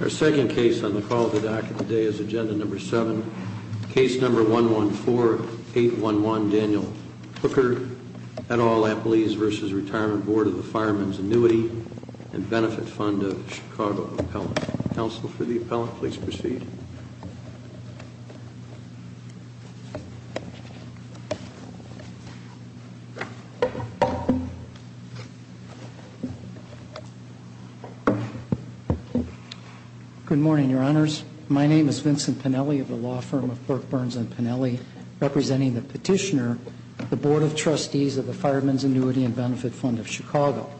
Our second case on the call of the dock of the day is Agenda Number 7, Case Number 114811, Daniel Hooker, et al. Employees v. Retirement Board of the Firemen's Annuity & Benefit Fund of Chicago Appellant. Counsel for the Appellant, please proceed. Good morning, Your Honors. My name is Vincent Pennelly of the law firm of Burke, Burns & Pennelly, representing the petitioner, the Board of Trustees of the Firemen's Annuity & Benefit Fund of Chicago.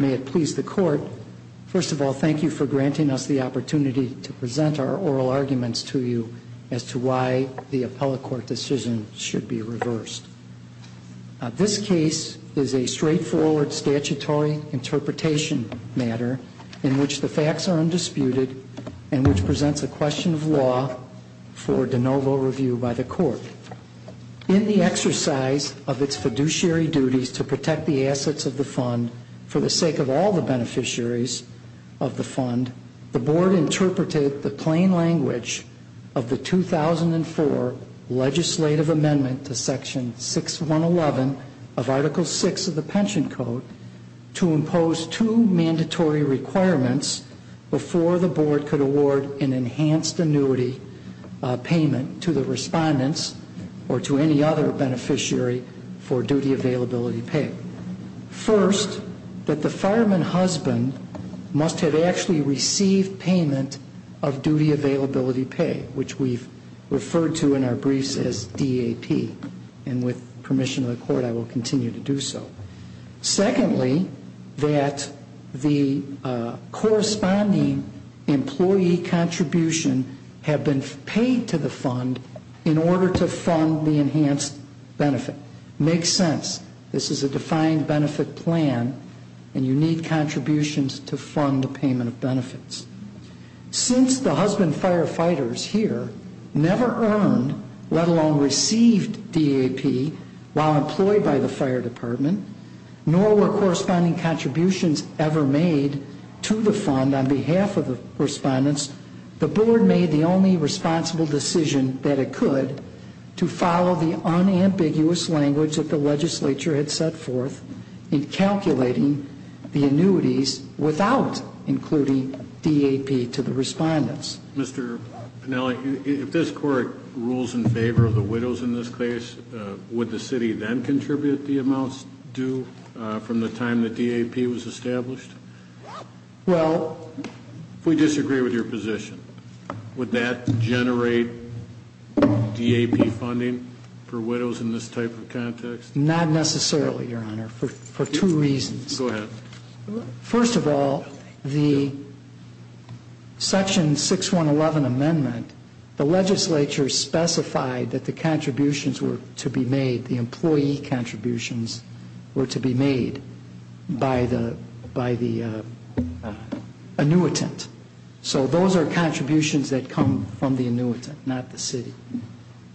May it please the Court, first of all, thank you for granting us the opportunity to present our oral arguments to you as to why the appellate court decision should be reversed. This case is a straightforward statutory interpretation matter in which the facts are undisputed and which presents a question of law for de novo review by the Court. In the exercise of its fiduciary duties to protect the assets of the fund for the sake of all the beneficiaries of the fund, the Board interpreted the plain language of the 2004 Legislative Amendment to Section 6111 of Article VI of the Pension Code to impose two mandatory requirements before the Board could award an enhanced annuity payment to the respondents or to any other beneficiary for duty availability pay. First, that the fireman husband must have actually received payment of duty availability pay, which we've referred to in our briefs as DAP, and with permission of the Court, I will continue to do so. Secondly, that the corresponding employee contribution have been paid to the fund in order to fund the enhanced benefit. Makes sense. This is a defined benefit plan, and you need contributions to fund the payment of benefits. Since the husband firefighters here never earned, let alone received, DAP while employed by the Fire Department, nor were corresponding contributions ever made to the fund on behalf of the respondents, the Board made the only responsible decision that it could to follow the unambiguous language that the Legislature had set forth in calculating the annuities without including DAP to the respondents. Mr. Pinelli, if this Court rules in favor of the widows in this case, would the City then contribute the amounts due from the time that DAP was established? Well... If we disagree with your position, would that generate DAP funding for widows in this type of context? Not necessarily, Your Honor, for two reasons. Go ahead. First of all, the Section 6111 amendment, the Legislature specified that the contributions were to be made, the employee contributions were to be made by the annuitant. So those are contributions that come from the annuitant, not the City.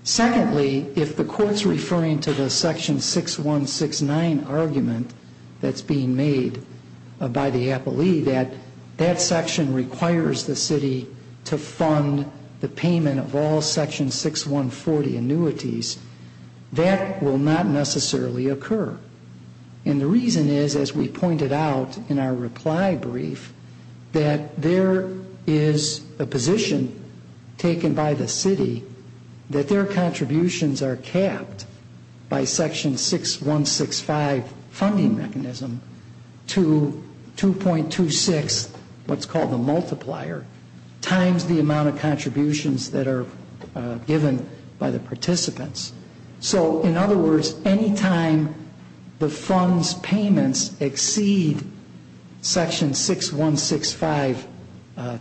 Secondly, if the Court's referring to the Section 6169 argument that's being made by the Appellee, that that section requires the City to fund the payment of all Section 6140 annuities, that will not necessarily occur. And the reason is, as we pointed out in our reply brief, that there is a position taken by the City that their contributions are capped by Section 6165 funding mechanism to 2.26, what's called the multiplier, times the amount of contributions that are given by the participants. So, in other words, any time the fund's payments exceed Section 6165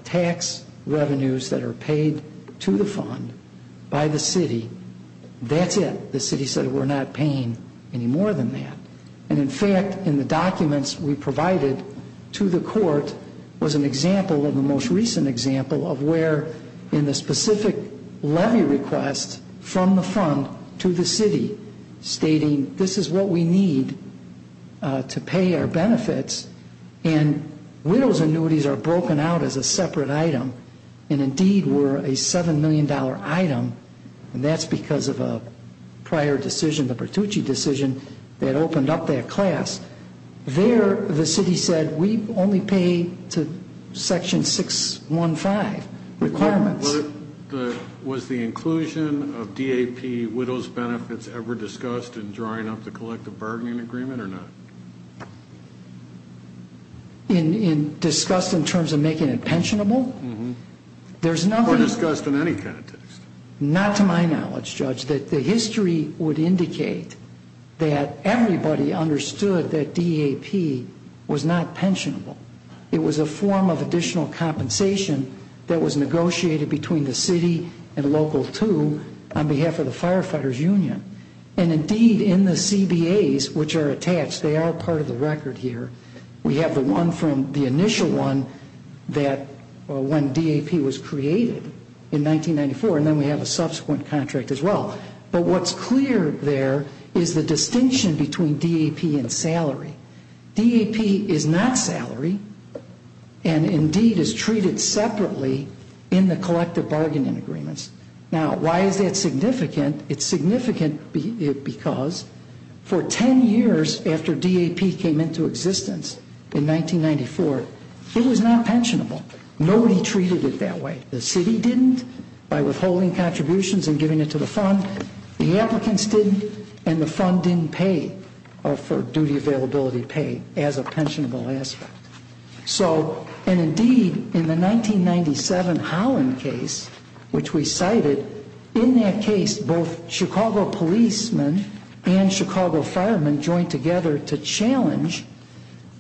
tax revenues that are paid to the fund by the City, that's it. The City said, we're not paying any more than that. And in fact, in the documents we provided to the Court, was an example of the most recent example of where in the specific levy request from the fund to the City, stating this is what we need to pay our benefits, and widow's annuities are broken out as a separate item. And indeed were a $7 million item, and that's because of a prior decision, the Bertucci decision, that opened up that class. There, the City said, we only pay to Section 615 requirements. Was the inclusion of DAP widow's benefits ever discussed in drawing up the collective bargaining agreement or not? Discussed in terms of making it pensionable? Or discussed in any context? Not to my knowledge, Judge, that the history would indicate that everybody understood that DAP was not pensionable. It was a form of additional compensation that was negotiated between the City and Local 2 on behalf of the Firefighters Union. And indeed, in the CBAs, which are attached, they are part of the record here. We have the one from the initial one that when DAP was created in 1994, and then we have a subsequent contract as well. But what's clear there is the distinction between DAP and salary. DAP is not salary, and indeed is treated separately in the collective bargaining agreements. Now, why is that significant? It's significant because for ten years after DAP came into existence in 1994, it was not pensionable. Nobody treated it that way. The City didn't by withholding contributions and giving it to the fund. The applicants didn't, and the fund didn't pay for duty availability pay as a pensionable aspect. So, and indeed, in the 1997 Holland case, which we cited, in that case, both Chicago policemen and Chicago firemen joined together to challenge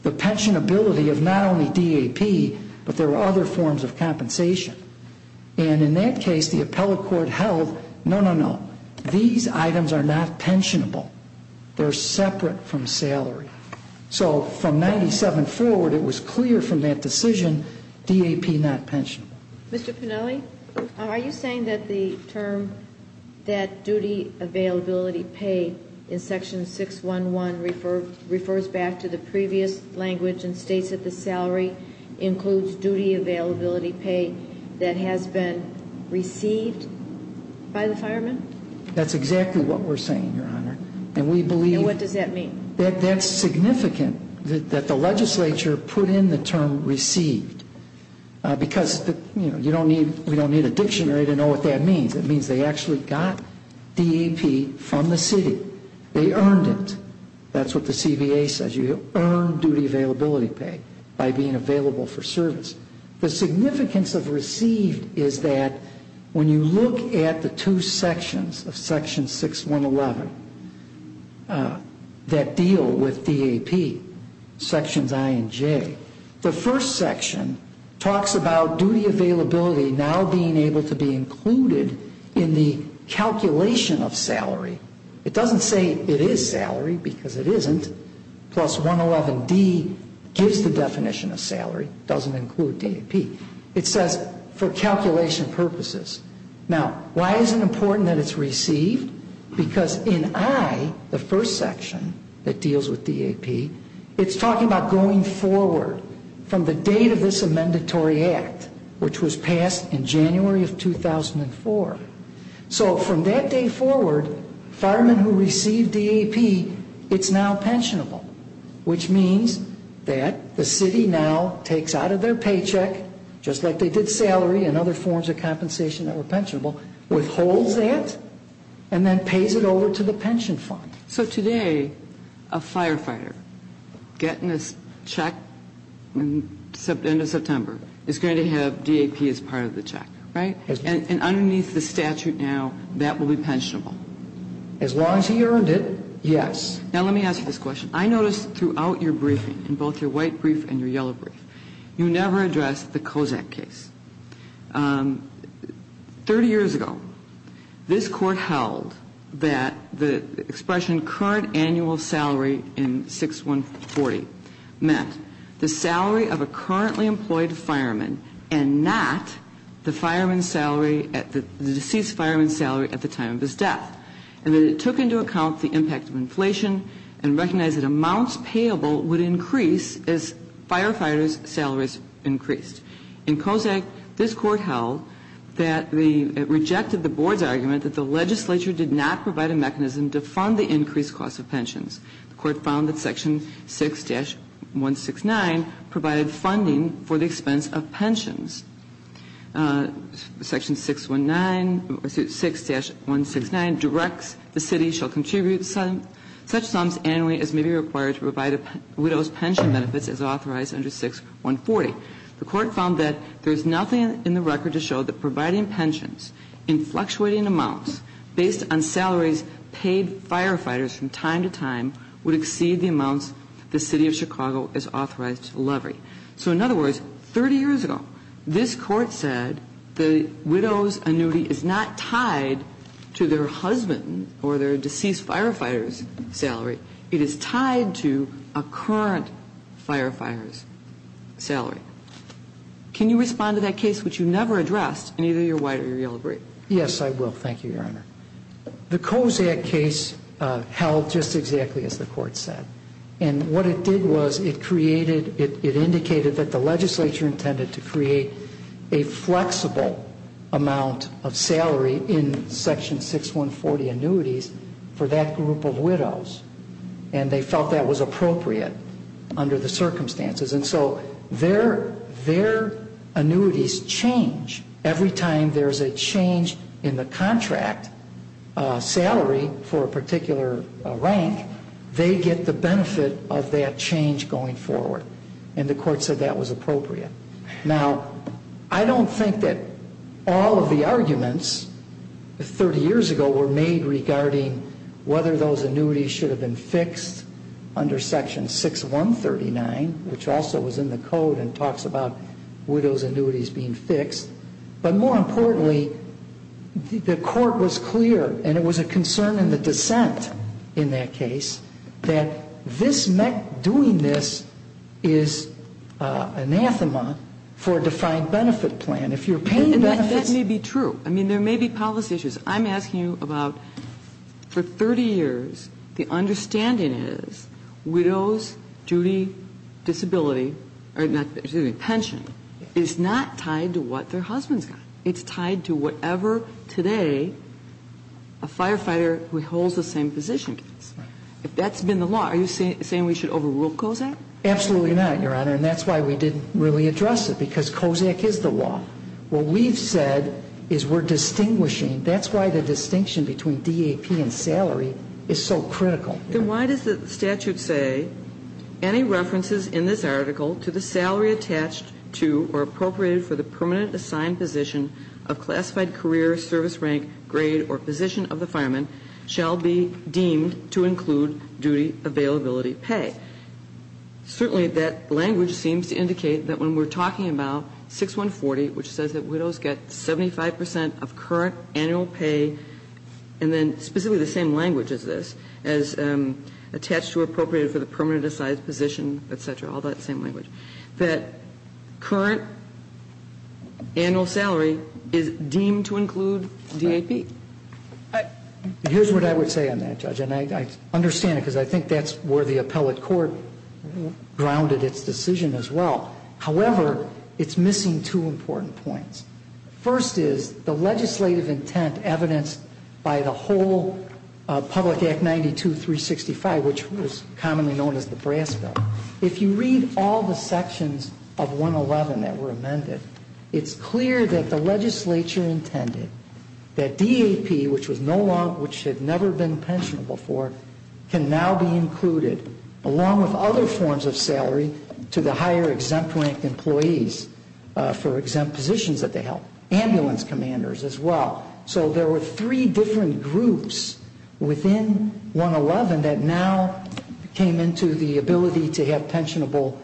the pensionability of not only DAP, but there were other forms of compensation. And in that case, the appellate court held, no, no, no, these items are not pensionable. They're separate from salary. So from 1997 forward, it was clear from that decision, DAP not pensionable. Mr. Pinelli, are you saying that the term that duty availability pay in Section 611 refers back to the previous language and states that the salary includes duty availability pay that has been received by the firemen? That's exactly what we're saying, Your Honor. And we believe... And what does that mean? That that's significant, that the legislature put in the term received. Because, you know, you don't need, we don't need a dictionary to know what that means. It means they actually got DAP from the City. They earned it. That's what the CBA says. You earn duty availability pay by being available for service. The significance of received is that when you look at the two sections of Section 611 that deal with DAP, Sections I and J, the first section talks about duty availability now being able to be included in the calculation of salary. It doesn't say it is salary because it isn't. Plus 111D gives the definition of salary, doesn't include DAP. It says for calculation purposes. Now, why is it important that it's received? Because in I, the first section that deals with DAP, it's talking about going forward from the date of this amendatory act, which was passed in January of 2004. So from that day forward, firemen who receive DAP, it's now pensionable, which means that the City now takes out of their paycheck, just like they did salary and other forms of compensation that were pensionable, withholds that and then pays it over to the pension fund. So today, a firefighter getting a check in the end of September is going to have DAP as part of the check, right? And underneath the statute now, that will be pensionable. As long as he earned it, yes. Now, let me ask you this question. I noticed throughout your briefing, in both your white brief and your yellow brief, you never addressed the Kozak case. 30 years ago, this Court held that the expression current annual salary in 6140 meant the salary of a currently employed fireman and not the fireman's salary, the deceased fireman's salary at the time of his death, and that it took into account the impact of inflation and recognized that amounts payable would increase as firefighters' salaries increased. In Kozak, this Court held that it rejected the Board's argument that the legislature did not provide a mechanism to fund the increased cost of pensions. The Court found that Section 6-169 provided funding for the expense of pensions. Section 6-169 directs the City shall contribute such sums annually as may be required to provide a widow's pension benefits as authorized under 6140. The Court found that there is nothing in the record to show that providing pensions in fluctuating amounts based on salaries paid firefighters from time to time would exceed the amounts the City of Chicago is authorized to levy. So in other words, 30 years ago, this Court said the widow's annuity is not tied to their husband or their deceased firefighter's salary. It is tied to a current firefighter's salary. Can you respond to that case which you never addressed in either your white or your yellow brief? Yes, I will. Thank you, Your Honor. The Kozak case held just exactly as the Court said. And what it did was it created, it indicated that the legislature intended to create a flexible amount of salary in Section 6140 annuities for that group of widows. And they felt that was appropriate under the circumstances. And so their annuities change every time there is a change in the contract salary for a particular rank. They get the benefit of that change going forward. And the Court said that was appropriate. Now, I don't think that all of the arguments 30 years ago were made regarding whether those annuities should have been fixed under Section 6139, which also was in the Code and talks about widows' annuities being fixed. But more importantly, the Court was clear, and it was a concern in the dissent in that case, that this doing this is anathema for a defined benefit plan. If you're paying benefits... And that may be true. I mean, there may be policy issues. I'm asking you about, for 30 years, the understanding is widows' duty, disability or not, excuse me, pension is not tied to what their husband's got. It's tied to whatever today a firefighter who holds the same position gets. If that's been the law, are you saying we should overrule COSAC? Absolutely not, Your Honor, and that's why we didn't really address it, because COSAC is the law. What we've said is we're distinguishing. That's why the distinction between DAP and salary is so critical. Then why does the statute say, Any references in this article to the salary attached to or appropriated for the permanent assigned position of classified career, service rank, grade or position of the fireman shall be deemed to include duty availability pay? Certainly that language seems to indicate that when we're talking about 6140, which says that widows get 75 percent of current annual pay, and then specifically the same language as this, as attached to or appropriated for the permanent assigned position, et cetera, all that same language, that current annual salary is deemed to include DAP. Here's what I would say on that, Judge, and I understand it, because I think that's where the appellate court grounded its decision as well. However, it's missing two important points. First is the legislative intent evidenced by the whole Public Act 92-365, which is commonly known as the Brass Bill. If you read all the sections of 111 that were amended, it's clear that the legislature intended that DAP, which had never been pensionable before, can now be included, along with other forms of salary, to the higher exempt rank employees for exempt positions that they held, ambulance commanders as well. So there were three different groups within 111 that now came into the ability to have pensionable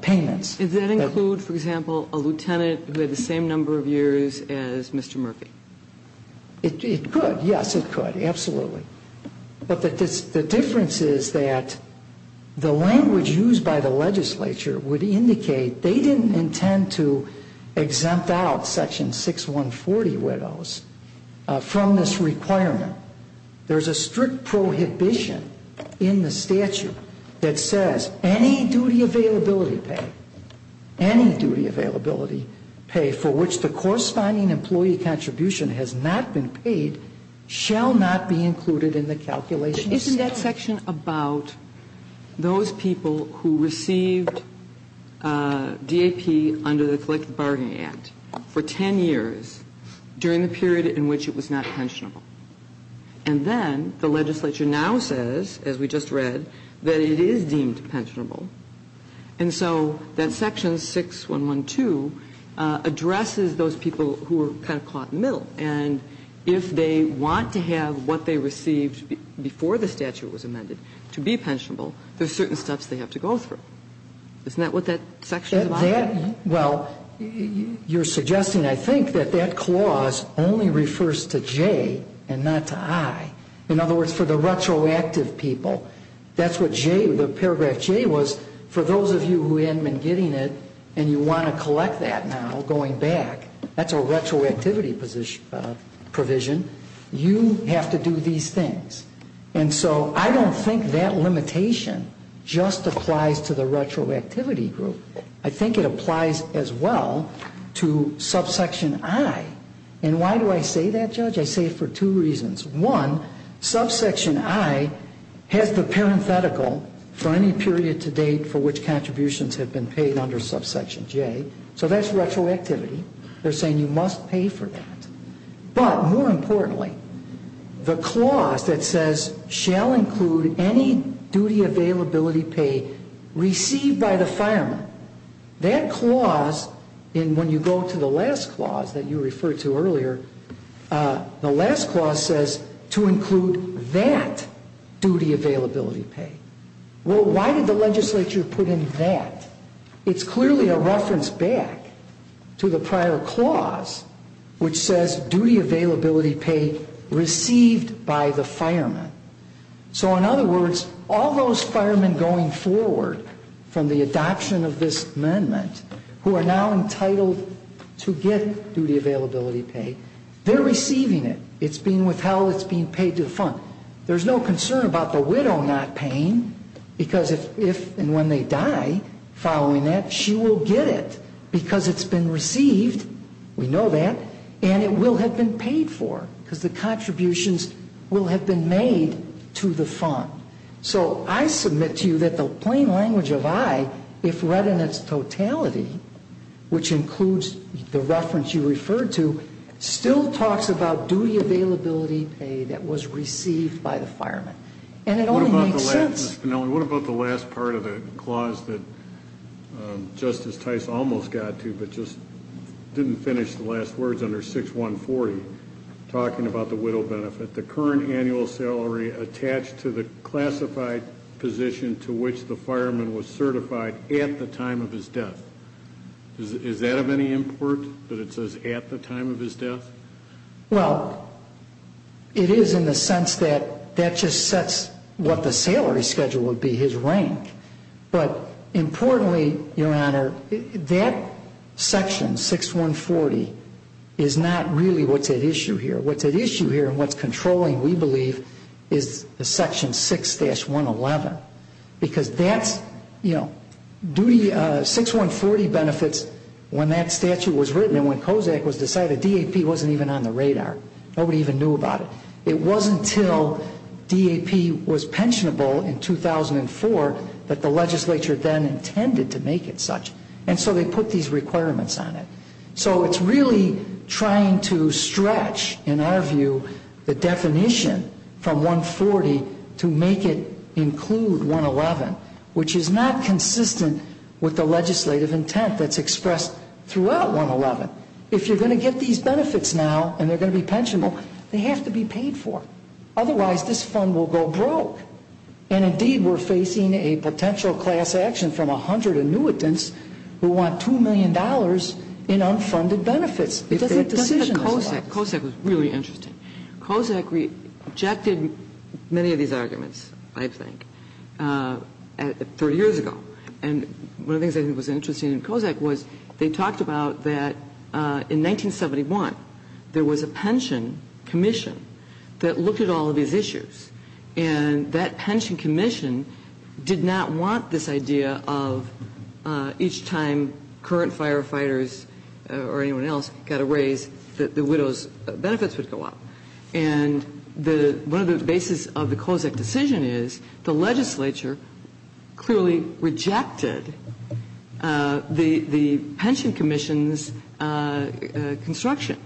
payments. Does that include, for example, a lieutenant who had the same number of years as Mr. Murphy? It could, yes, it could, absolutely. But the difference is that the language used by the legislature would indicate they didn't intend to exempt out Section 6140 widows from this requirement. There's a strict prohibition in the statute that says any duty availability pay, any duty availability pay for which the corresponding employee contribution has not been paid, shall not be included in the calculation. But isn't that section about those people who received DAP under the Collective Bargaining Act for 10 years during the period in which it was not pensionable? And then the legislature now says, as we just read, that it is deemed pensionable. And so that Section 6112 addresses those people who are kind of caught in the middle. And if they want to have what they received before the statute was amended to be pensionable, there's certain steps they have to go through. Isn't that what that section is about? Well, you're suggesting, I think, that that clause only refers to J and not to I. In other words, for the retroactive people, that's what J, the paragraph J was. For those of you who had been getting it and you want to collect that now going back, that's a retroactivity provision. You have to do these things. And so I don't think that limitation just applies to the retroactivity group. I think it applies as well to subsection I. And why do I say that, Judge? I say it for two reasons. One, subsection I has the parenthetical for any period to date for which contributions have been paid under subsection J. So that's retroactivity. They're saying you must pay for that. But more importantly, the clause that says shall include any duty availability pay received by the fireman, that clause, and when you go to the last clause that you referred to earlier, the last clause says to include that duty availability pay. Well, why did the legislature put in that? It's clearly a reference back to the prior clause, which says duty availability pay received by the fireman. So in other words, all those firemen going forward from the adoption of this amendment who are now entitled to get duty availability pay, they're receiving it. It's being withheld. It's being paid to the fund. There's no concern about the widow not paying because if and when they die following that, she will get it because it's been received. We know that. And it will have been paid for because the contributions will have been made to the fund. So I submit to you that the plain language of I, if read in its totality, which includes the reference you referred to, still talks about duty availability pay that was received by the fireman. And it only makes sense. Ms. Finnelli, what about the last part of the clause that Justice Tice almost got to but just didn't finish the last words under 6140 talking about the widow benefit, the current annual salary attached to the classified position to which the fireman was certified at the time of his death. Is that of any import that it says at the time of his death? Well, it is in the sense that that just sets what the salary schedule would be, his rank. But importantly, Your Honor, that section, 6140, is not really what's at issue here. What's at issue here and what's controlling, we believe, is the section 6-111 because that's, you know, 6140 benefits, when that statute was written and when COSAC was decided, DAP wasn't even on the radar. Nobody even knew about it. It wasn't until DAP was pensionable in 2004 that the legislature then intended to make it such. And so they put these requirements on it. So it's really trying to stretch, in our view, the definition from 140 to make it include 111, which is not consistent with the legislative intent that's expressed throughout 111. If you're going to get these benefits now and they're going to be pensionable, they have to be paid for. Otherwise, this fund will go broke. And, indeed, we're facing a potential class action from 100 annuitants who want $2 million in unfunded benefits. If that decision is allowed. But COSAC was really interesting. COSAC rejected many of these arguments, I think, 30 years ago. And one of the things I think was interesting in COSAC was they talked about that in 1971, there was a pension commission that looked at all of these issues. And that pension commission did not want this idea of each time current firefighters or anyone else got a raise, that the widow's benefits would go up. And one of the bases of the COSAC decision is the legislature clearly rejected the pension commission's construction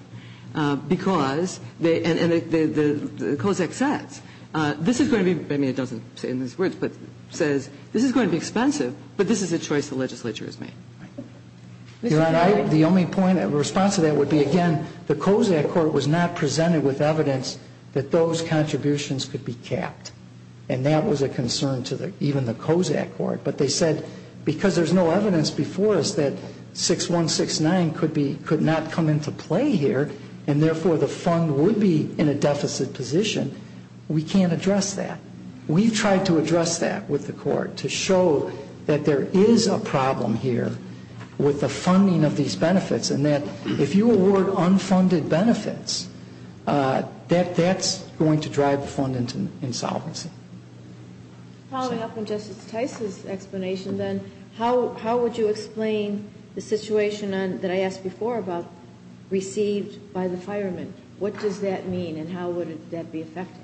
because they – and the COSAC says, this is going to be – I mean, it doesn't say it in these words, but says this is going to be expensive, but this is a choice the legislature has made. The only point of response to that would be, again, the COSAC court was not presented with evidence that those contributions could be capped. And that was a concern to even the COSAC court. But they said because there's no evidence before us that 6169 could not come into play here and, therefore, the fund would be in a deficit position, we can't address that. We've tried to address that with the court to show that there is a problem here with the funding of these benefits and that if you award unfunded benefits, that that's going to drive the fund into insolvency. Following up on Justice Tice's explanation, then, how would you explain the situation that I asked before about received by the firemen? What does that mean and how would that be affected?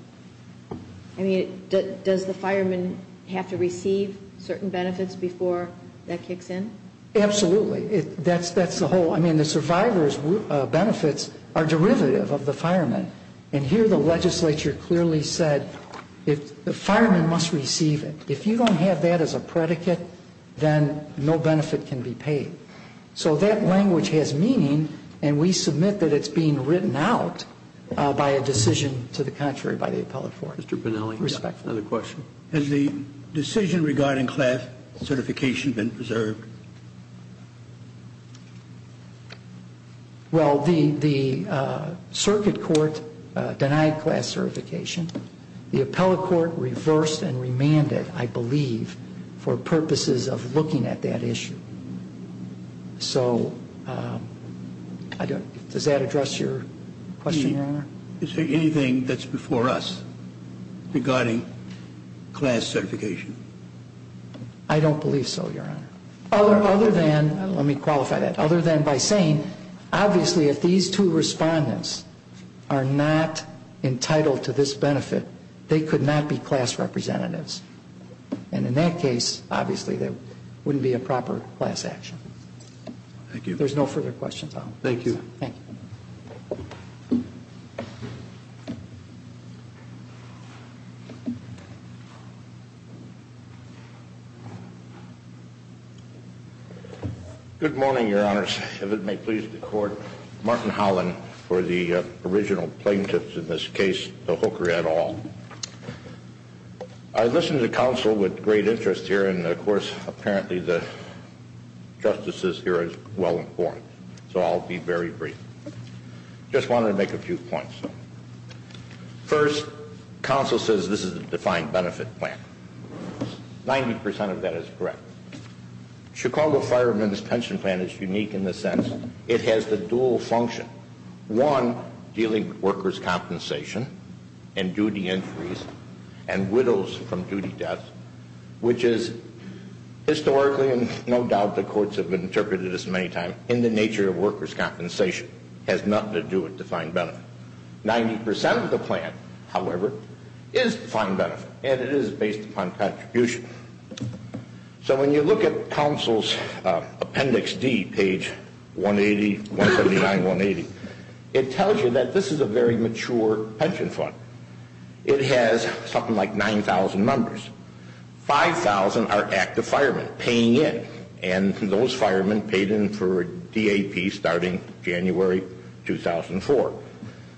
I mean, does the fireman have to receive certain benefits before that kicks in? Absolutely. That's the whole. I mean, the survivor's benefits are derivative of the fireman. And here the legislature clearly said the fireman must receive it. If you don't have that as a predicate, then no benefit can be paid. So that language has meaning and we submit that it's being written out by a decision to the contrary by the appellate court. Mr. Bonelli. Respectfully. Another question. Has the decision regarding class certification been preserved? Well, the circuit court denied class certification. The appellate court reversed and remanded, I believe, for purposes of looking at that issue. So does that address your question, Your Honor? Is there anything that's before us regarding class certification? I don't believe so, Your Honor. Other than, let me qualify that. Other than by saying, obviously, if these two respondents are not entitled to this benefit, they could not be class representatives. And in that case, obviously, there wouldn't be a proper class action. Thank you. There's no further questions. Thank you. Thank you. Thank you. Good morning, Your Honors. If it may please the court. Martin Holland for the original plaintiffs in this case, the Hooker et al. I listen to counsel with great interest here and, of course, apparently the justices here are well informed. So I'll be very brief. Just wanted to make a few points. First, counsel says this is a defined benefit plan. Ninety percent of that is correct. Chicago Firemen's Pension Plan is unique in the sense it has the dual function. One, dealing with workers' compensation and duty entries and widows from duty deaths, which is historically, and no doubt the courts have interpreted this many times, in the nature of workers' compensation. It has nothing to do with defined benefit. Ninety percent of the plan, however, is defined benefit, and it is based upon contribution. So when you look at counsel's Appendix D, page 180, 179, 180, it tells you that this is a very mature pension fund. It has something like 9,000 members. 5,000 are active firemen paying in, and those firemen paid in for DAP starting January 2004.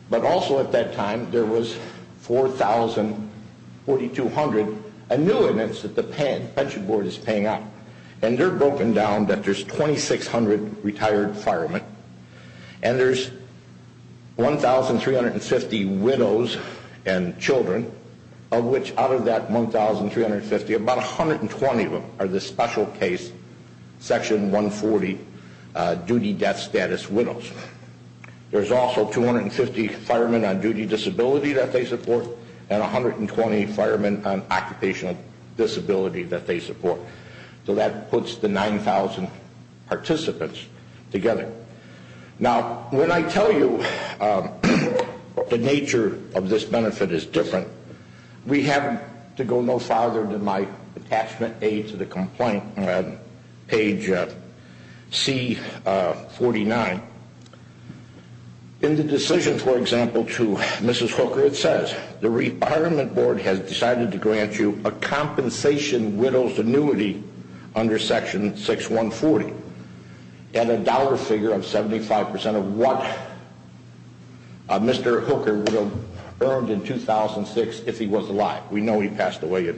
But also at that time there was 4,042 hundred annuitants that the pension board is paying out. And they're broken down that there's 2,600 retired firemen and there's 1,350 widows and children, of which out of that 1,350, about 120 of them are the special case Section 140 duty death status widows. There's also 250 firemen on duty disability that they support and 120 firemen on occupational disability that they support. So that puts the 9,000 participants together. Now, when I tell you the nature of this benefit is different, we have to go no farther than my attachment A to the complaint on page C49. In the decision, for example, to Mrs. Hooker, it says, the retirement board has decided to grant you a compensation widows annuity under Section 6140 and a dollar figure of 75% of what Mr. Hooker would have earned in 2006 if he was alive. We know he passed away in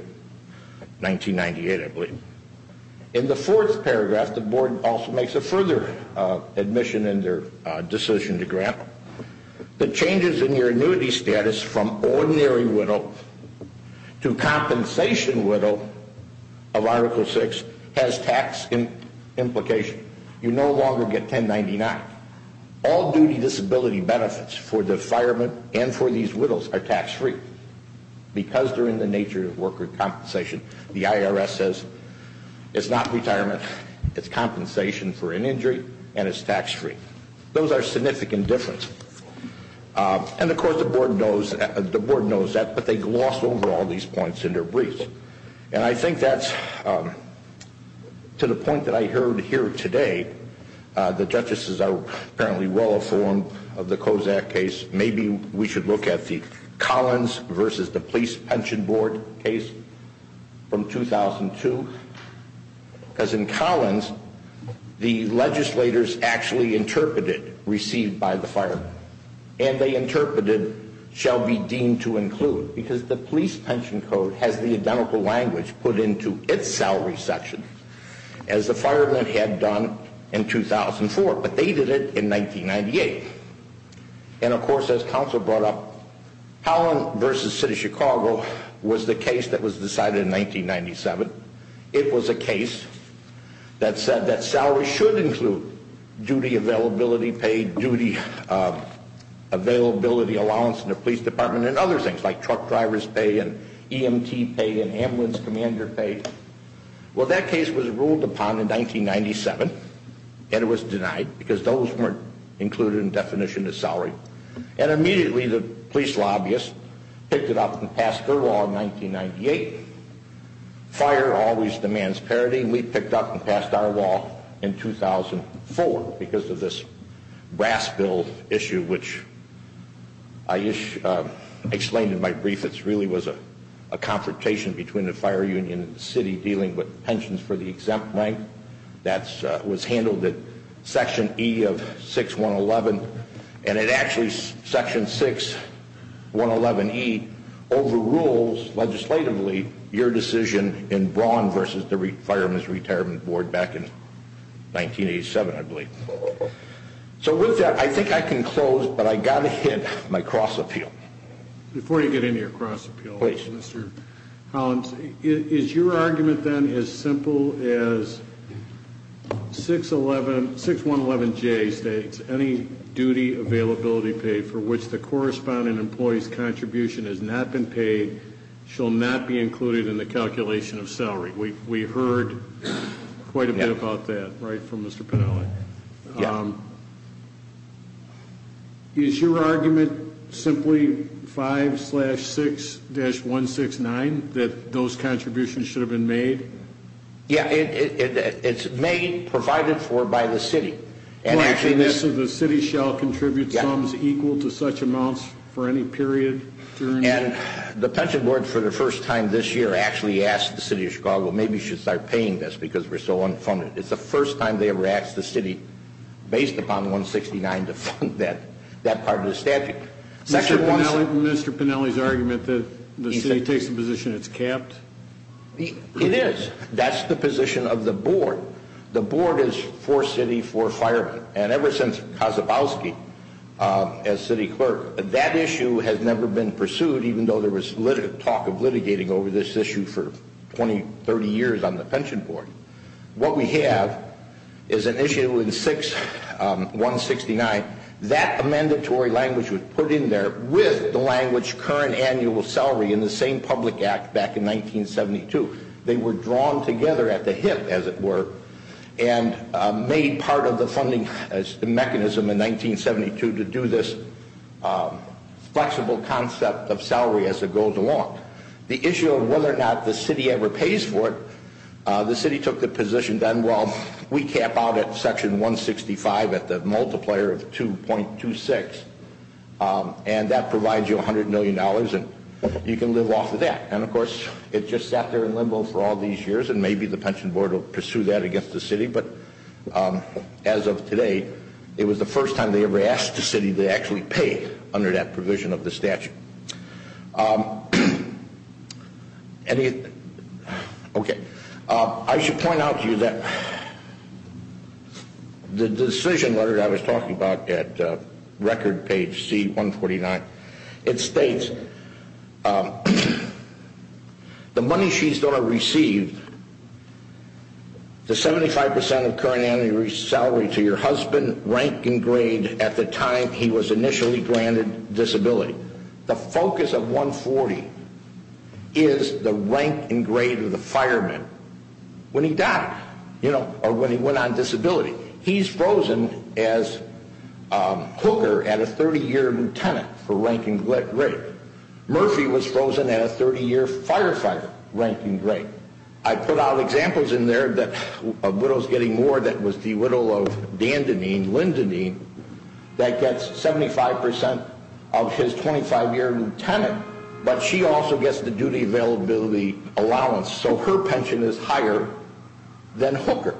1998, I believe. In the fourth paragraph, the board also makes a further admission in their decision to grant The changes in your annuity status from ordinary widow to compensation widow of Article 6 has tax implications. You no longer get 1099. All duty disability benefits for the firemen and for these widows are tax-free because they're in the nature of worker compensation. The IRS says it's not retirement, it's compensation for an injury and it's tax-free. Those are significant differences. And, of course, the board knows that, but they gloss over all these points in their briefs. And I think that's, to the point that I heard here today, the justices are apparently well-informed of the Kozak case. Maybe we should look at the Collins versus the Police Pension Board case from 2002. Because in Collins, the legislators actually interpreted received by the firemen. And they interpreted shall be deemed to include. Because the Police Pension Code has the identical language put into its salary section as the firemen had done in 2004. But they did it in 1998. And, of course, as counsel brought up, Collins versus City of Chicago was the case that was decided in 1997. It was a case that said that salary should include duty availability pay, duty availability allowance in the police department, and other things like truck driver's pay and EMT pay and ambulance commander pay. Well, that case was ruled upon in 1997. And it was denied because those weren't included in the definition of salary. And immediately the police lobbyists picked it up and passed their law in 1998. Fire always demands parity. And we picked up and passed our law in 2004 because of this brass bill issue, which I explained in my brief. It really was a confrontation between the fire union and the city dealing with pensions for the exempt rank. That was handled at Section E of 6111. And it actually, Section 6111E, overrules legislatively your decision in Braun versus the Firemen's Retirement Board back in 1987, I believe. So with that, I think I can close, but I've got to hit my cross appeal. Before you get into your cross appeal, Mr. Collins, is your argument then as simple as 6111J states that any duty availability pay for which the corresponding employee's contribution has not been paid shall not be included in the calculation of salary? We heard quite a bit about that right from Mr. Panelli. Yeah. Is your argument simply 5-6-169, that those contributions should have been made? Yeah, it's made, provided for by the city. So the city shall contribute sums equal to such amounts for any period? And the pension board, for the first time this year, actually asked the city of Chicago, maybe you should start paying this because we're so unfunded. It's the first time they ever asked the city, based upon 169, to fund that part of the statute. Mr. Panelli's argument that the city takes the position it's capped? It is. That's the position of the board. The board is for city, for firemen. And ever since Kazabowski, as city clerk, that issue has never been pursued, even though there was talk of litigating over this issue for 20, 30 years on the pension board. What we have is an issue in 6-169. That amendatory language was put in there with the language current annual salary in the same public act back in 1972. They were drawn together at the hip, as it were, and made part of the funding mechanism in 1972 to do this flexible concept of salary as it goes along. The issue of whether or not the city ever pays for it, the city took the position then, well, we cap out at section 165 at the multiplier of 2.26, and that provides you $100 million and you can live off of that. And, of course, it just sat there in limbo for all these years, and maybe the pension board will pursue that against the city, but as of today, it was the first time they ever asked the city to actually pay under that provision of the statute. Okay. I should point out to you that the decision letter I was talking about at record page C-149, it states the money she's going to receive, the 75% of current annual salary to your husband, rank and grade at the time he was initially granted disability. The focus of 140 is the rank and grade of the fireman when he died, you know, or when he went on disability. He's frozen as hooker at a 30-year lieutenant for rank and grade. Murphy was frozen at a 30-year firefighter rank and grade. I put out examples in there of widows getting more. That was the widow of Dandenene, Lindenene, that gets 75% of his 25-year lieutenant, but she also gets the duty availability allowance, so her pension is higher than hooker,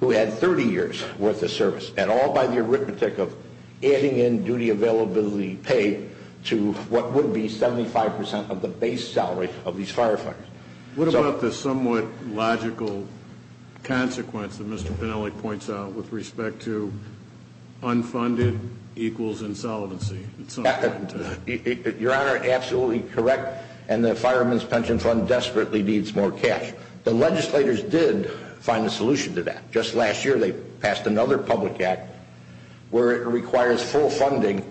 who had 30 years worth of service, and all by the arithmetic of adding in duty availability pay to what would be 75% of the base salary of these firefighters. What about the somewhat logical consequence that Mr. Pennelly points out with respect to unfunded equals insolvency? Your Honor, absolutely correct, and the fireman's pension fund desperately needs more cash. The legislators did find a solution to that. Just last year they passed another public act where it requires full funding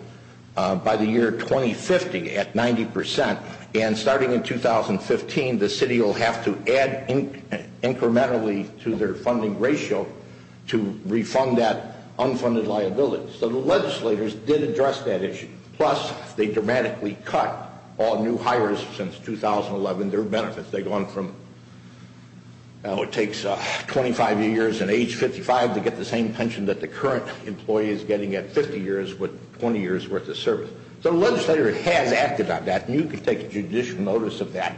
by the year 2050 at 90%, and starting in 2015 the city will have to add incrementally to their funding ratio to refund that unfunded liability. So the legislators did address that issue, plus they dramatically cut all new hires since 2011, their benefits. They've gone from it takes 25 years and age 55 to get the same pension that the current employee is getting at 50 years with 20 years worth of service. So the legislator has acted on that, and you can take judicial notice of that,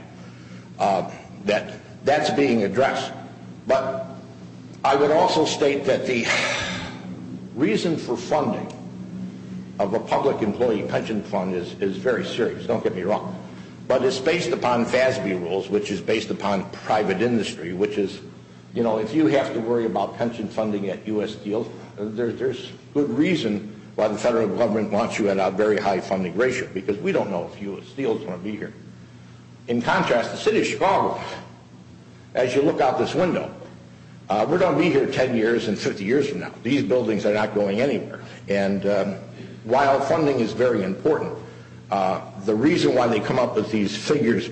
that that's being addressed. But I would also state that the reason for funding of a public employee pension fund is very serious. Don't get me wrong. But it's based upon FASB rules, which is based upon private industry, which is, you know, if you have to worry about pension funding at U.S. Steel, there's good reason why the federal government wants you at a very high funding ratio, because we don't know if U.S. Steel is going to be here. In contrast, the city of Chicago, as you look out this window, we're going to be here 10 years and 50 years from now. These buildings are not going anywhere. And while funding is very important, the reason why they come up with these figures,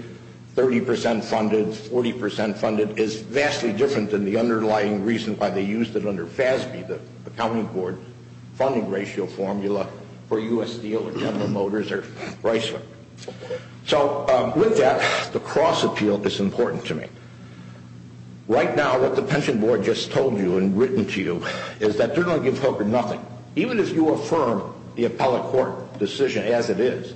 30% funded, 40% funded, is vastly different than the underlying reason why they used it under FASB, the accounting board funding ratio formula for U.S. Steel or General Motors or Chrysler. So with that, the cross-appeal is important to me. Right now, what the pension board just told you and written to you is that they're going to give Hooker nothing. Even if you affirm the appellate court decision as it is,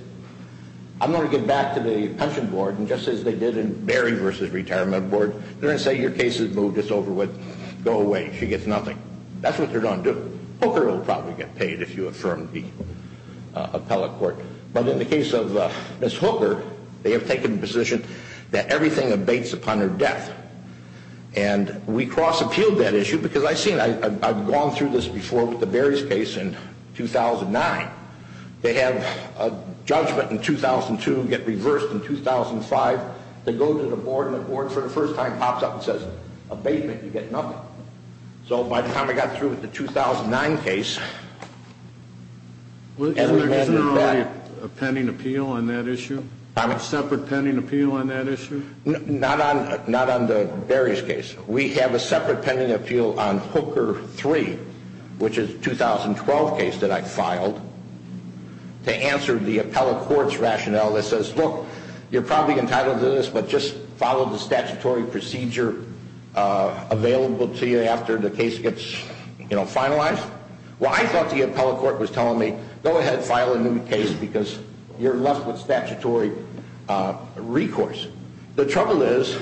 I'm going to get back to the pension board, and just as they did in Barry v. Retirement Board, they're going to say, your case is moved, it's over with, go away, she gets nothing. That's what they're going to do. Hooker will probably get paid if you affirm the appellate court. But in the case of Ms. Hooker, they have taken the position that everything abates upon her death. And we cross-appealed that issue because I've seen it. I've gone through this before with the Barry's case in 2009. They have a judgment in 2002 get reversed in 2005. They go to the board, and the board for the first time pops up and says, abatement, you get nothing. So by the time I got through with the 2009 case, and we had that. Isn't there already a pending appeal on that issue? A separate pending appeal on that issue? Not on Barry's case. We have a separate pending appeal on Hooker 3, which is a 2012 case that I filed, to answer the appellate court's rationale that says, look, you're probably entitled to this, but just follow the statutory procedure available to you after the case gets finalized. Well, I thought the appellate court was telling me, go ahead and file a new case because you're left with statutory recourse. The trouble is,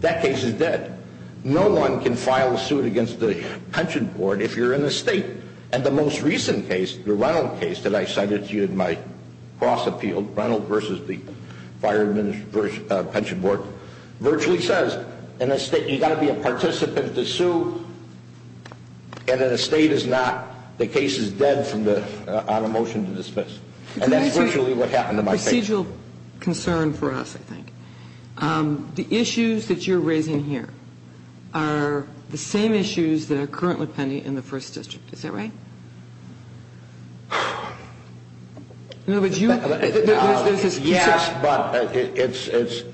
that case is dead. No one can file a suit against the pension board if you're in the state. And the most recent case, the Reynolds case that I cited to you in my cross-appeal, Reynolds versus the fire pension board, virtually says, in a state, you've got to be a participant to sue, and in a state it's not. The case is dead on a motion to dismiss. And that's virtually what happened in my case. The issues that you're raising here are the same issues that are currently pending in the First District. Is that right? Yes, but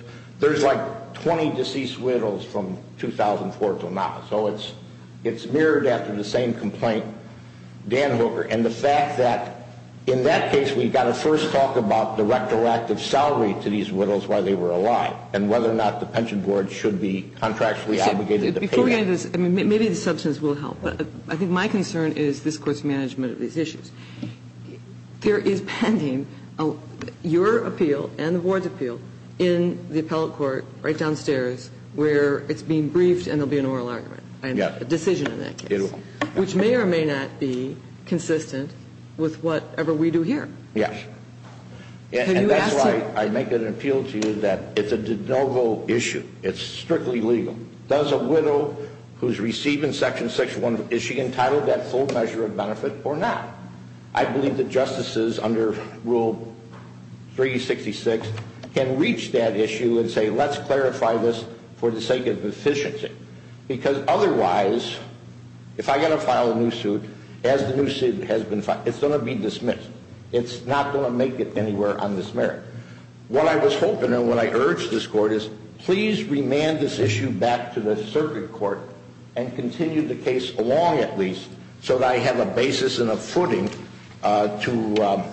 there's like 20 deceased widows from 2004 to now. So it's mirrored after the same complaint, Dan Hooker, and the fact that in that case we've got to first talk about the retroactive salary to these widows while they were alive and whether or not the pension board should be contractually obligated to pay that. Maybe the substance will help. But I think my concern is this Court's management of these issues. There is pending your appeal and the board's appeal in the appellate court right downstairs where it's being briefed and there will be an oral argument, a decision in that case, which may or may not be consistent with whatever we do here. Yes. And that's why I make an appeal to you that it's a de novo issue. It's strictly legal. Does a widow who's receiving Section 6-1, is she entitled to that full measure of benefit or not? I believe that justices under Rule 366 can reach that issue and say let's clarify this for the sake of efficiency because otherwise if I've got to file a new suit, as the new suit has been filed, it's going to be dismissed. It's not going to make it anywhere on this merit. What I was hoping and what I urged this Court is please remand this issue back to the circuit court and continue the case along at least so that I have a basis and a footing to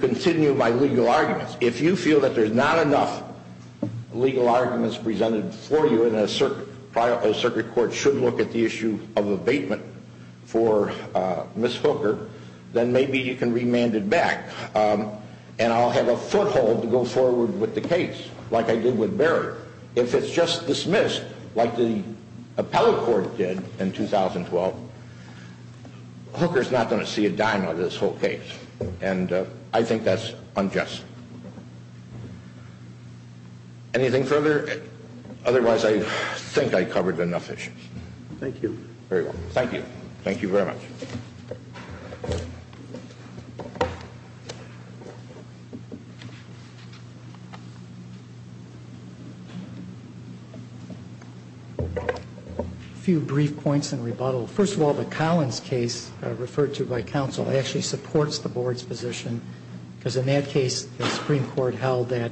continue my legal arguments. If you feel that there's not enough legal arguments presented for you and a circuit court should look at the issue of abatement for Ms. Hooker, then maybe you can remand it back and I'll have a foothold to go forward with the case like I did with Barry. If it's just dismissed like the appellate court did in 2012, Hooker's not going to see a dime out of this whole case and I think that's unjust. Anything further? Otherwise, I think I covered enough issues. Thank you. Thank you. A few brief points in rebuttal. First of all, the Collins case referred to by counsel actually supports the board's position because in that case the Supreme Court held that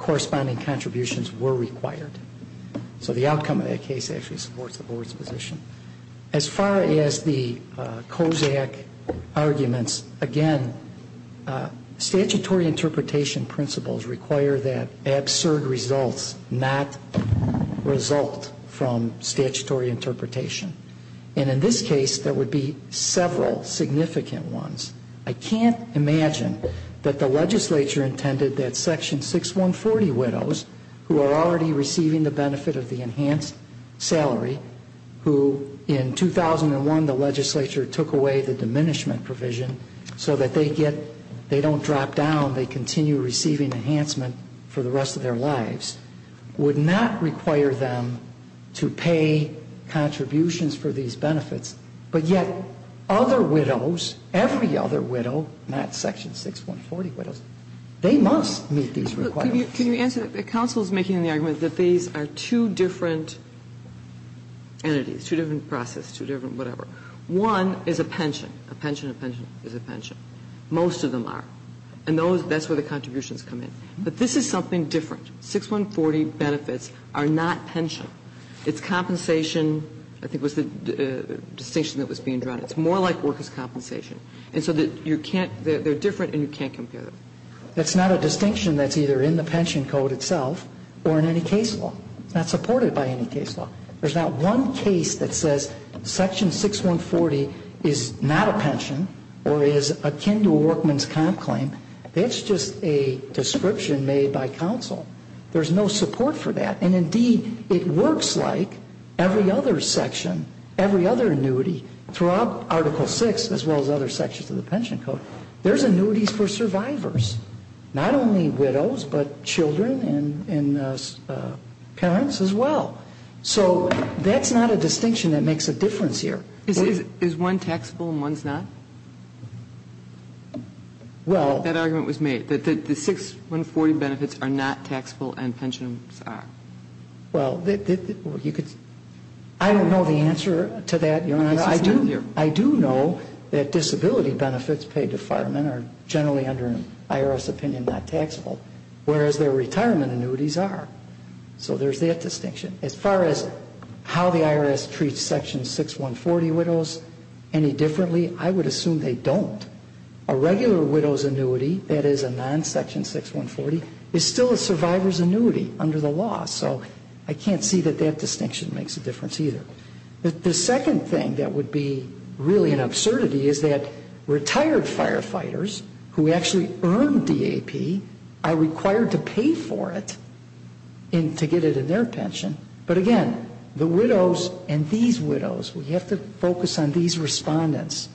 corresponding contributions were required. So the outcome of that case actually supports the board's position. As far as the COSAC arguments, again, statutory interpretation principles require that absurd results not result from statutory interpretation. And in this case, there would be several significant ones. I can't imagine that the legislature intended that Section 6140 widows, who are already receiving the benefit of the enhanced salary, who in 2001 the legislature took away the diminishment provision so that they don't drop down, they continue receiving enhancement for the rest of their lives, would not require them to pay contributions for these benefits. But yet other widows, every other widow, not Section 6140 widows, they must meet these requirements. Can you answer that? Counsel is making the argument that these are two different entities, two different processes, two different whatever. One is a pension. A pension, a pension is a pension. Most of them are. And those, that's where the contributions come in. But this is something different. 6140 benefits are not pension. It's compensation. I think it was the distinction that was being drawn. It's more like workers' compensation. And so you can't, they're different and you can't compare them. That's not a distinction that's either in the pension code itself or in any case law. It's not supported by any case law. There's not one case that says Section 6140 is not a pension or is akin to a workman's comp claim. It's just a description made by counsel. There's no support for that. And, indeed, it works like every other section, every other annuity throughout Article 6, as well as other sections of the pension code. There's annuities for survivors, not only widows but children and parents as well. So that's not a distinction that makes a difference here. Is one taxable and one's not? Well. That argument was made, that the 6140 benefits are not taxable and pensions are. Well, you could, I don't know the answer to that, Your Honor. I do know that disability benefits paid to firemen are generally under IRS opinion not taxable, whereas their retirement annuities are. So there's that distinction. As far as how the IRS treats Section 6140 widows any differently, I would assume they don't. A regular widow's annuity, that is a non-Section 6140, is still a survivor's annuity under the law. So I can't see that that distinction makes a difference either. The second thing that would be really an absurdity is that retired firefighters who actually earned DAP are required to pay for it to get it in their pension. But, again, the widows and these widows, we have to focus on these respondents,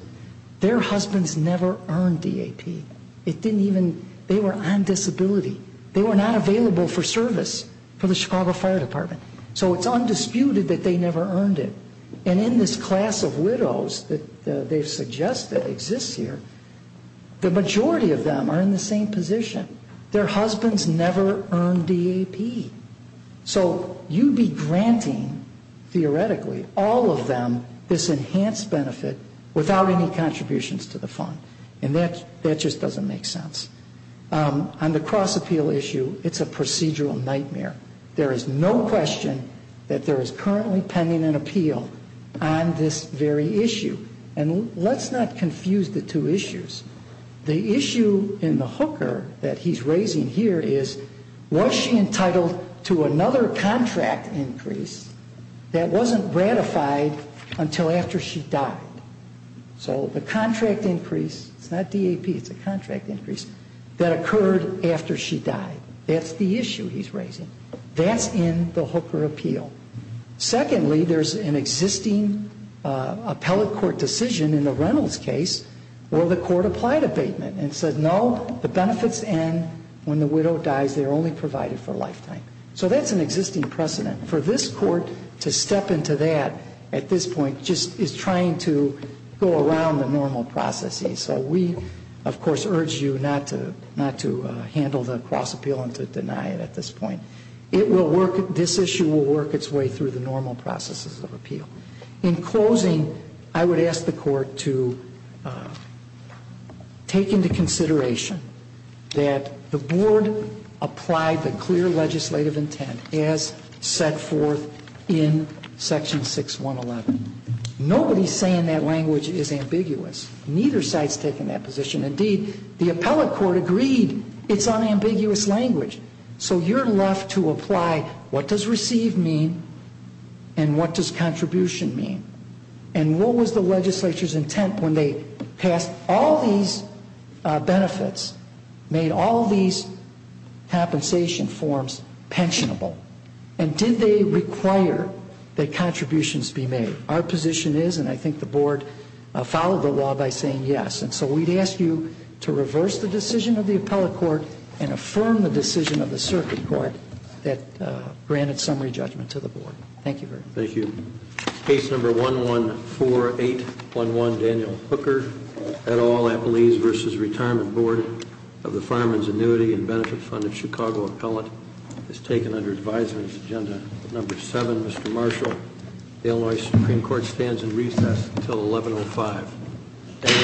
their husbands never earned DAP. It didn't even, they were on disability. They were not available for service for the Chicago Fire Department. So it's undisputed that they never earned it. And in this class of widows that they've suggested exists here, the majority of them are in the same position. Their husbands never earned DAP. So you'd be granting, theoretically, all of them this enhanced benefit without any contributions to the fund. And that just doesn't make sense. On the cross-appeal issue, it's a procedural nightmare. There is no question that there is currently pending an appeal on this very issue. And let's not confuse the two issues. The issue in the hooker that he's raising here is, was she entitled to another contract increase that wasn't ratified until after she died? So the contract increase, it's not DAP, it's a contract increase, that occurred after she died. That's the issue he's raising. That's in the hooker appeal. Secondly, there's an existing appellate court decision in the Reynolds case where the court applied abatement and said, no, the benefits end when the widow dies. They're only provided for a lifetime. So that's an existing precedent. For this court to step into that at this point just is trying to go around the normal processes. So we, of course, urge you not to handle the cross-appeal and to deny it at this point. This issue will work its way through the normal processes of appeal. In closing, I would ask the court to take into consideration that the board applied the clear legislative intent as set forth in Section 6111. Nobody's saying that language is ambiguous. Neither side's taking that position. Indeed, the appellate court agreed it's unambiguous language. So you're left to apply what does receive mean and what does contribution mean. And what was the legislature's intent when they passed all these benefits, made all these compensation forms pensionable, and did they require that contributions be made? Our position is, and I think the board followed the law by saying yes. And so we'd ask you to reverse the decision of the appellate court and affirm the decision of the circuit court that granted summary judgment to the board. Thank you very much. Thank you. Case number 114811, Daniel Hooker, et al. Appellees v. Retirement Board of the Farmers' Annuity and Benefit Fund of Chicago Appellant. It's taken under advisory agenda number 7. Mr. Marshall, Illinois Supreme Court stands in recess until 1105.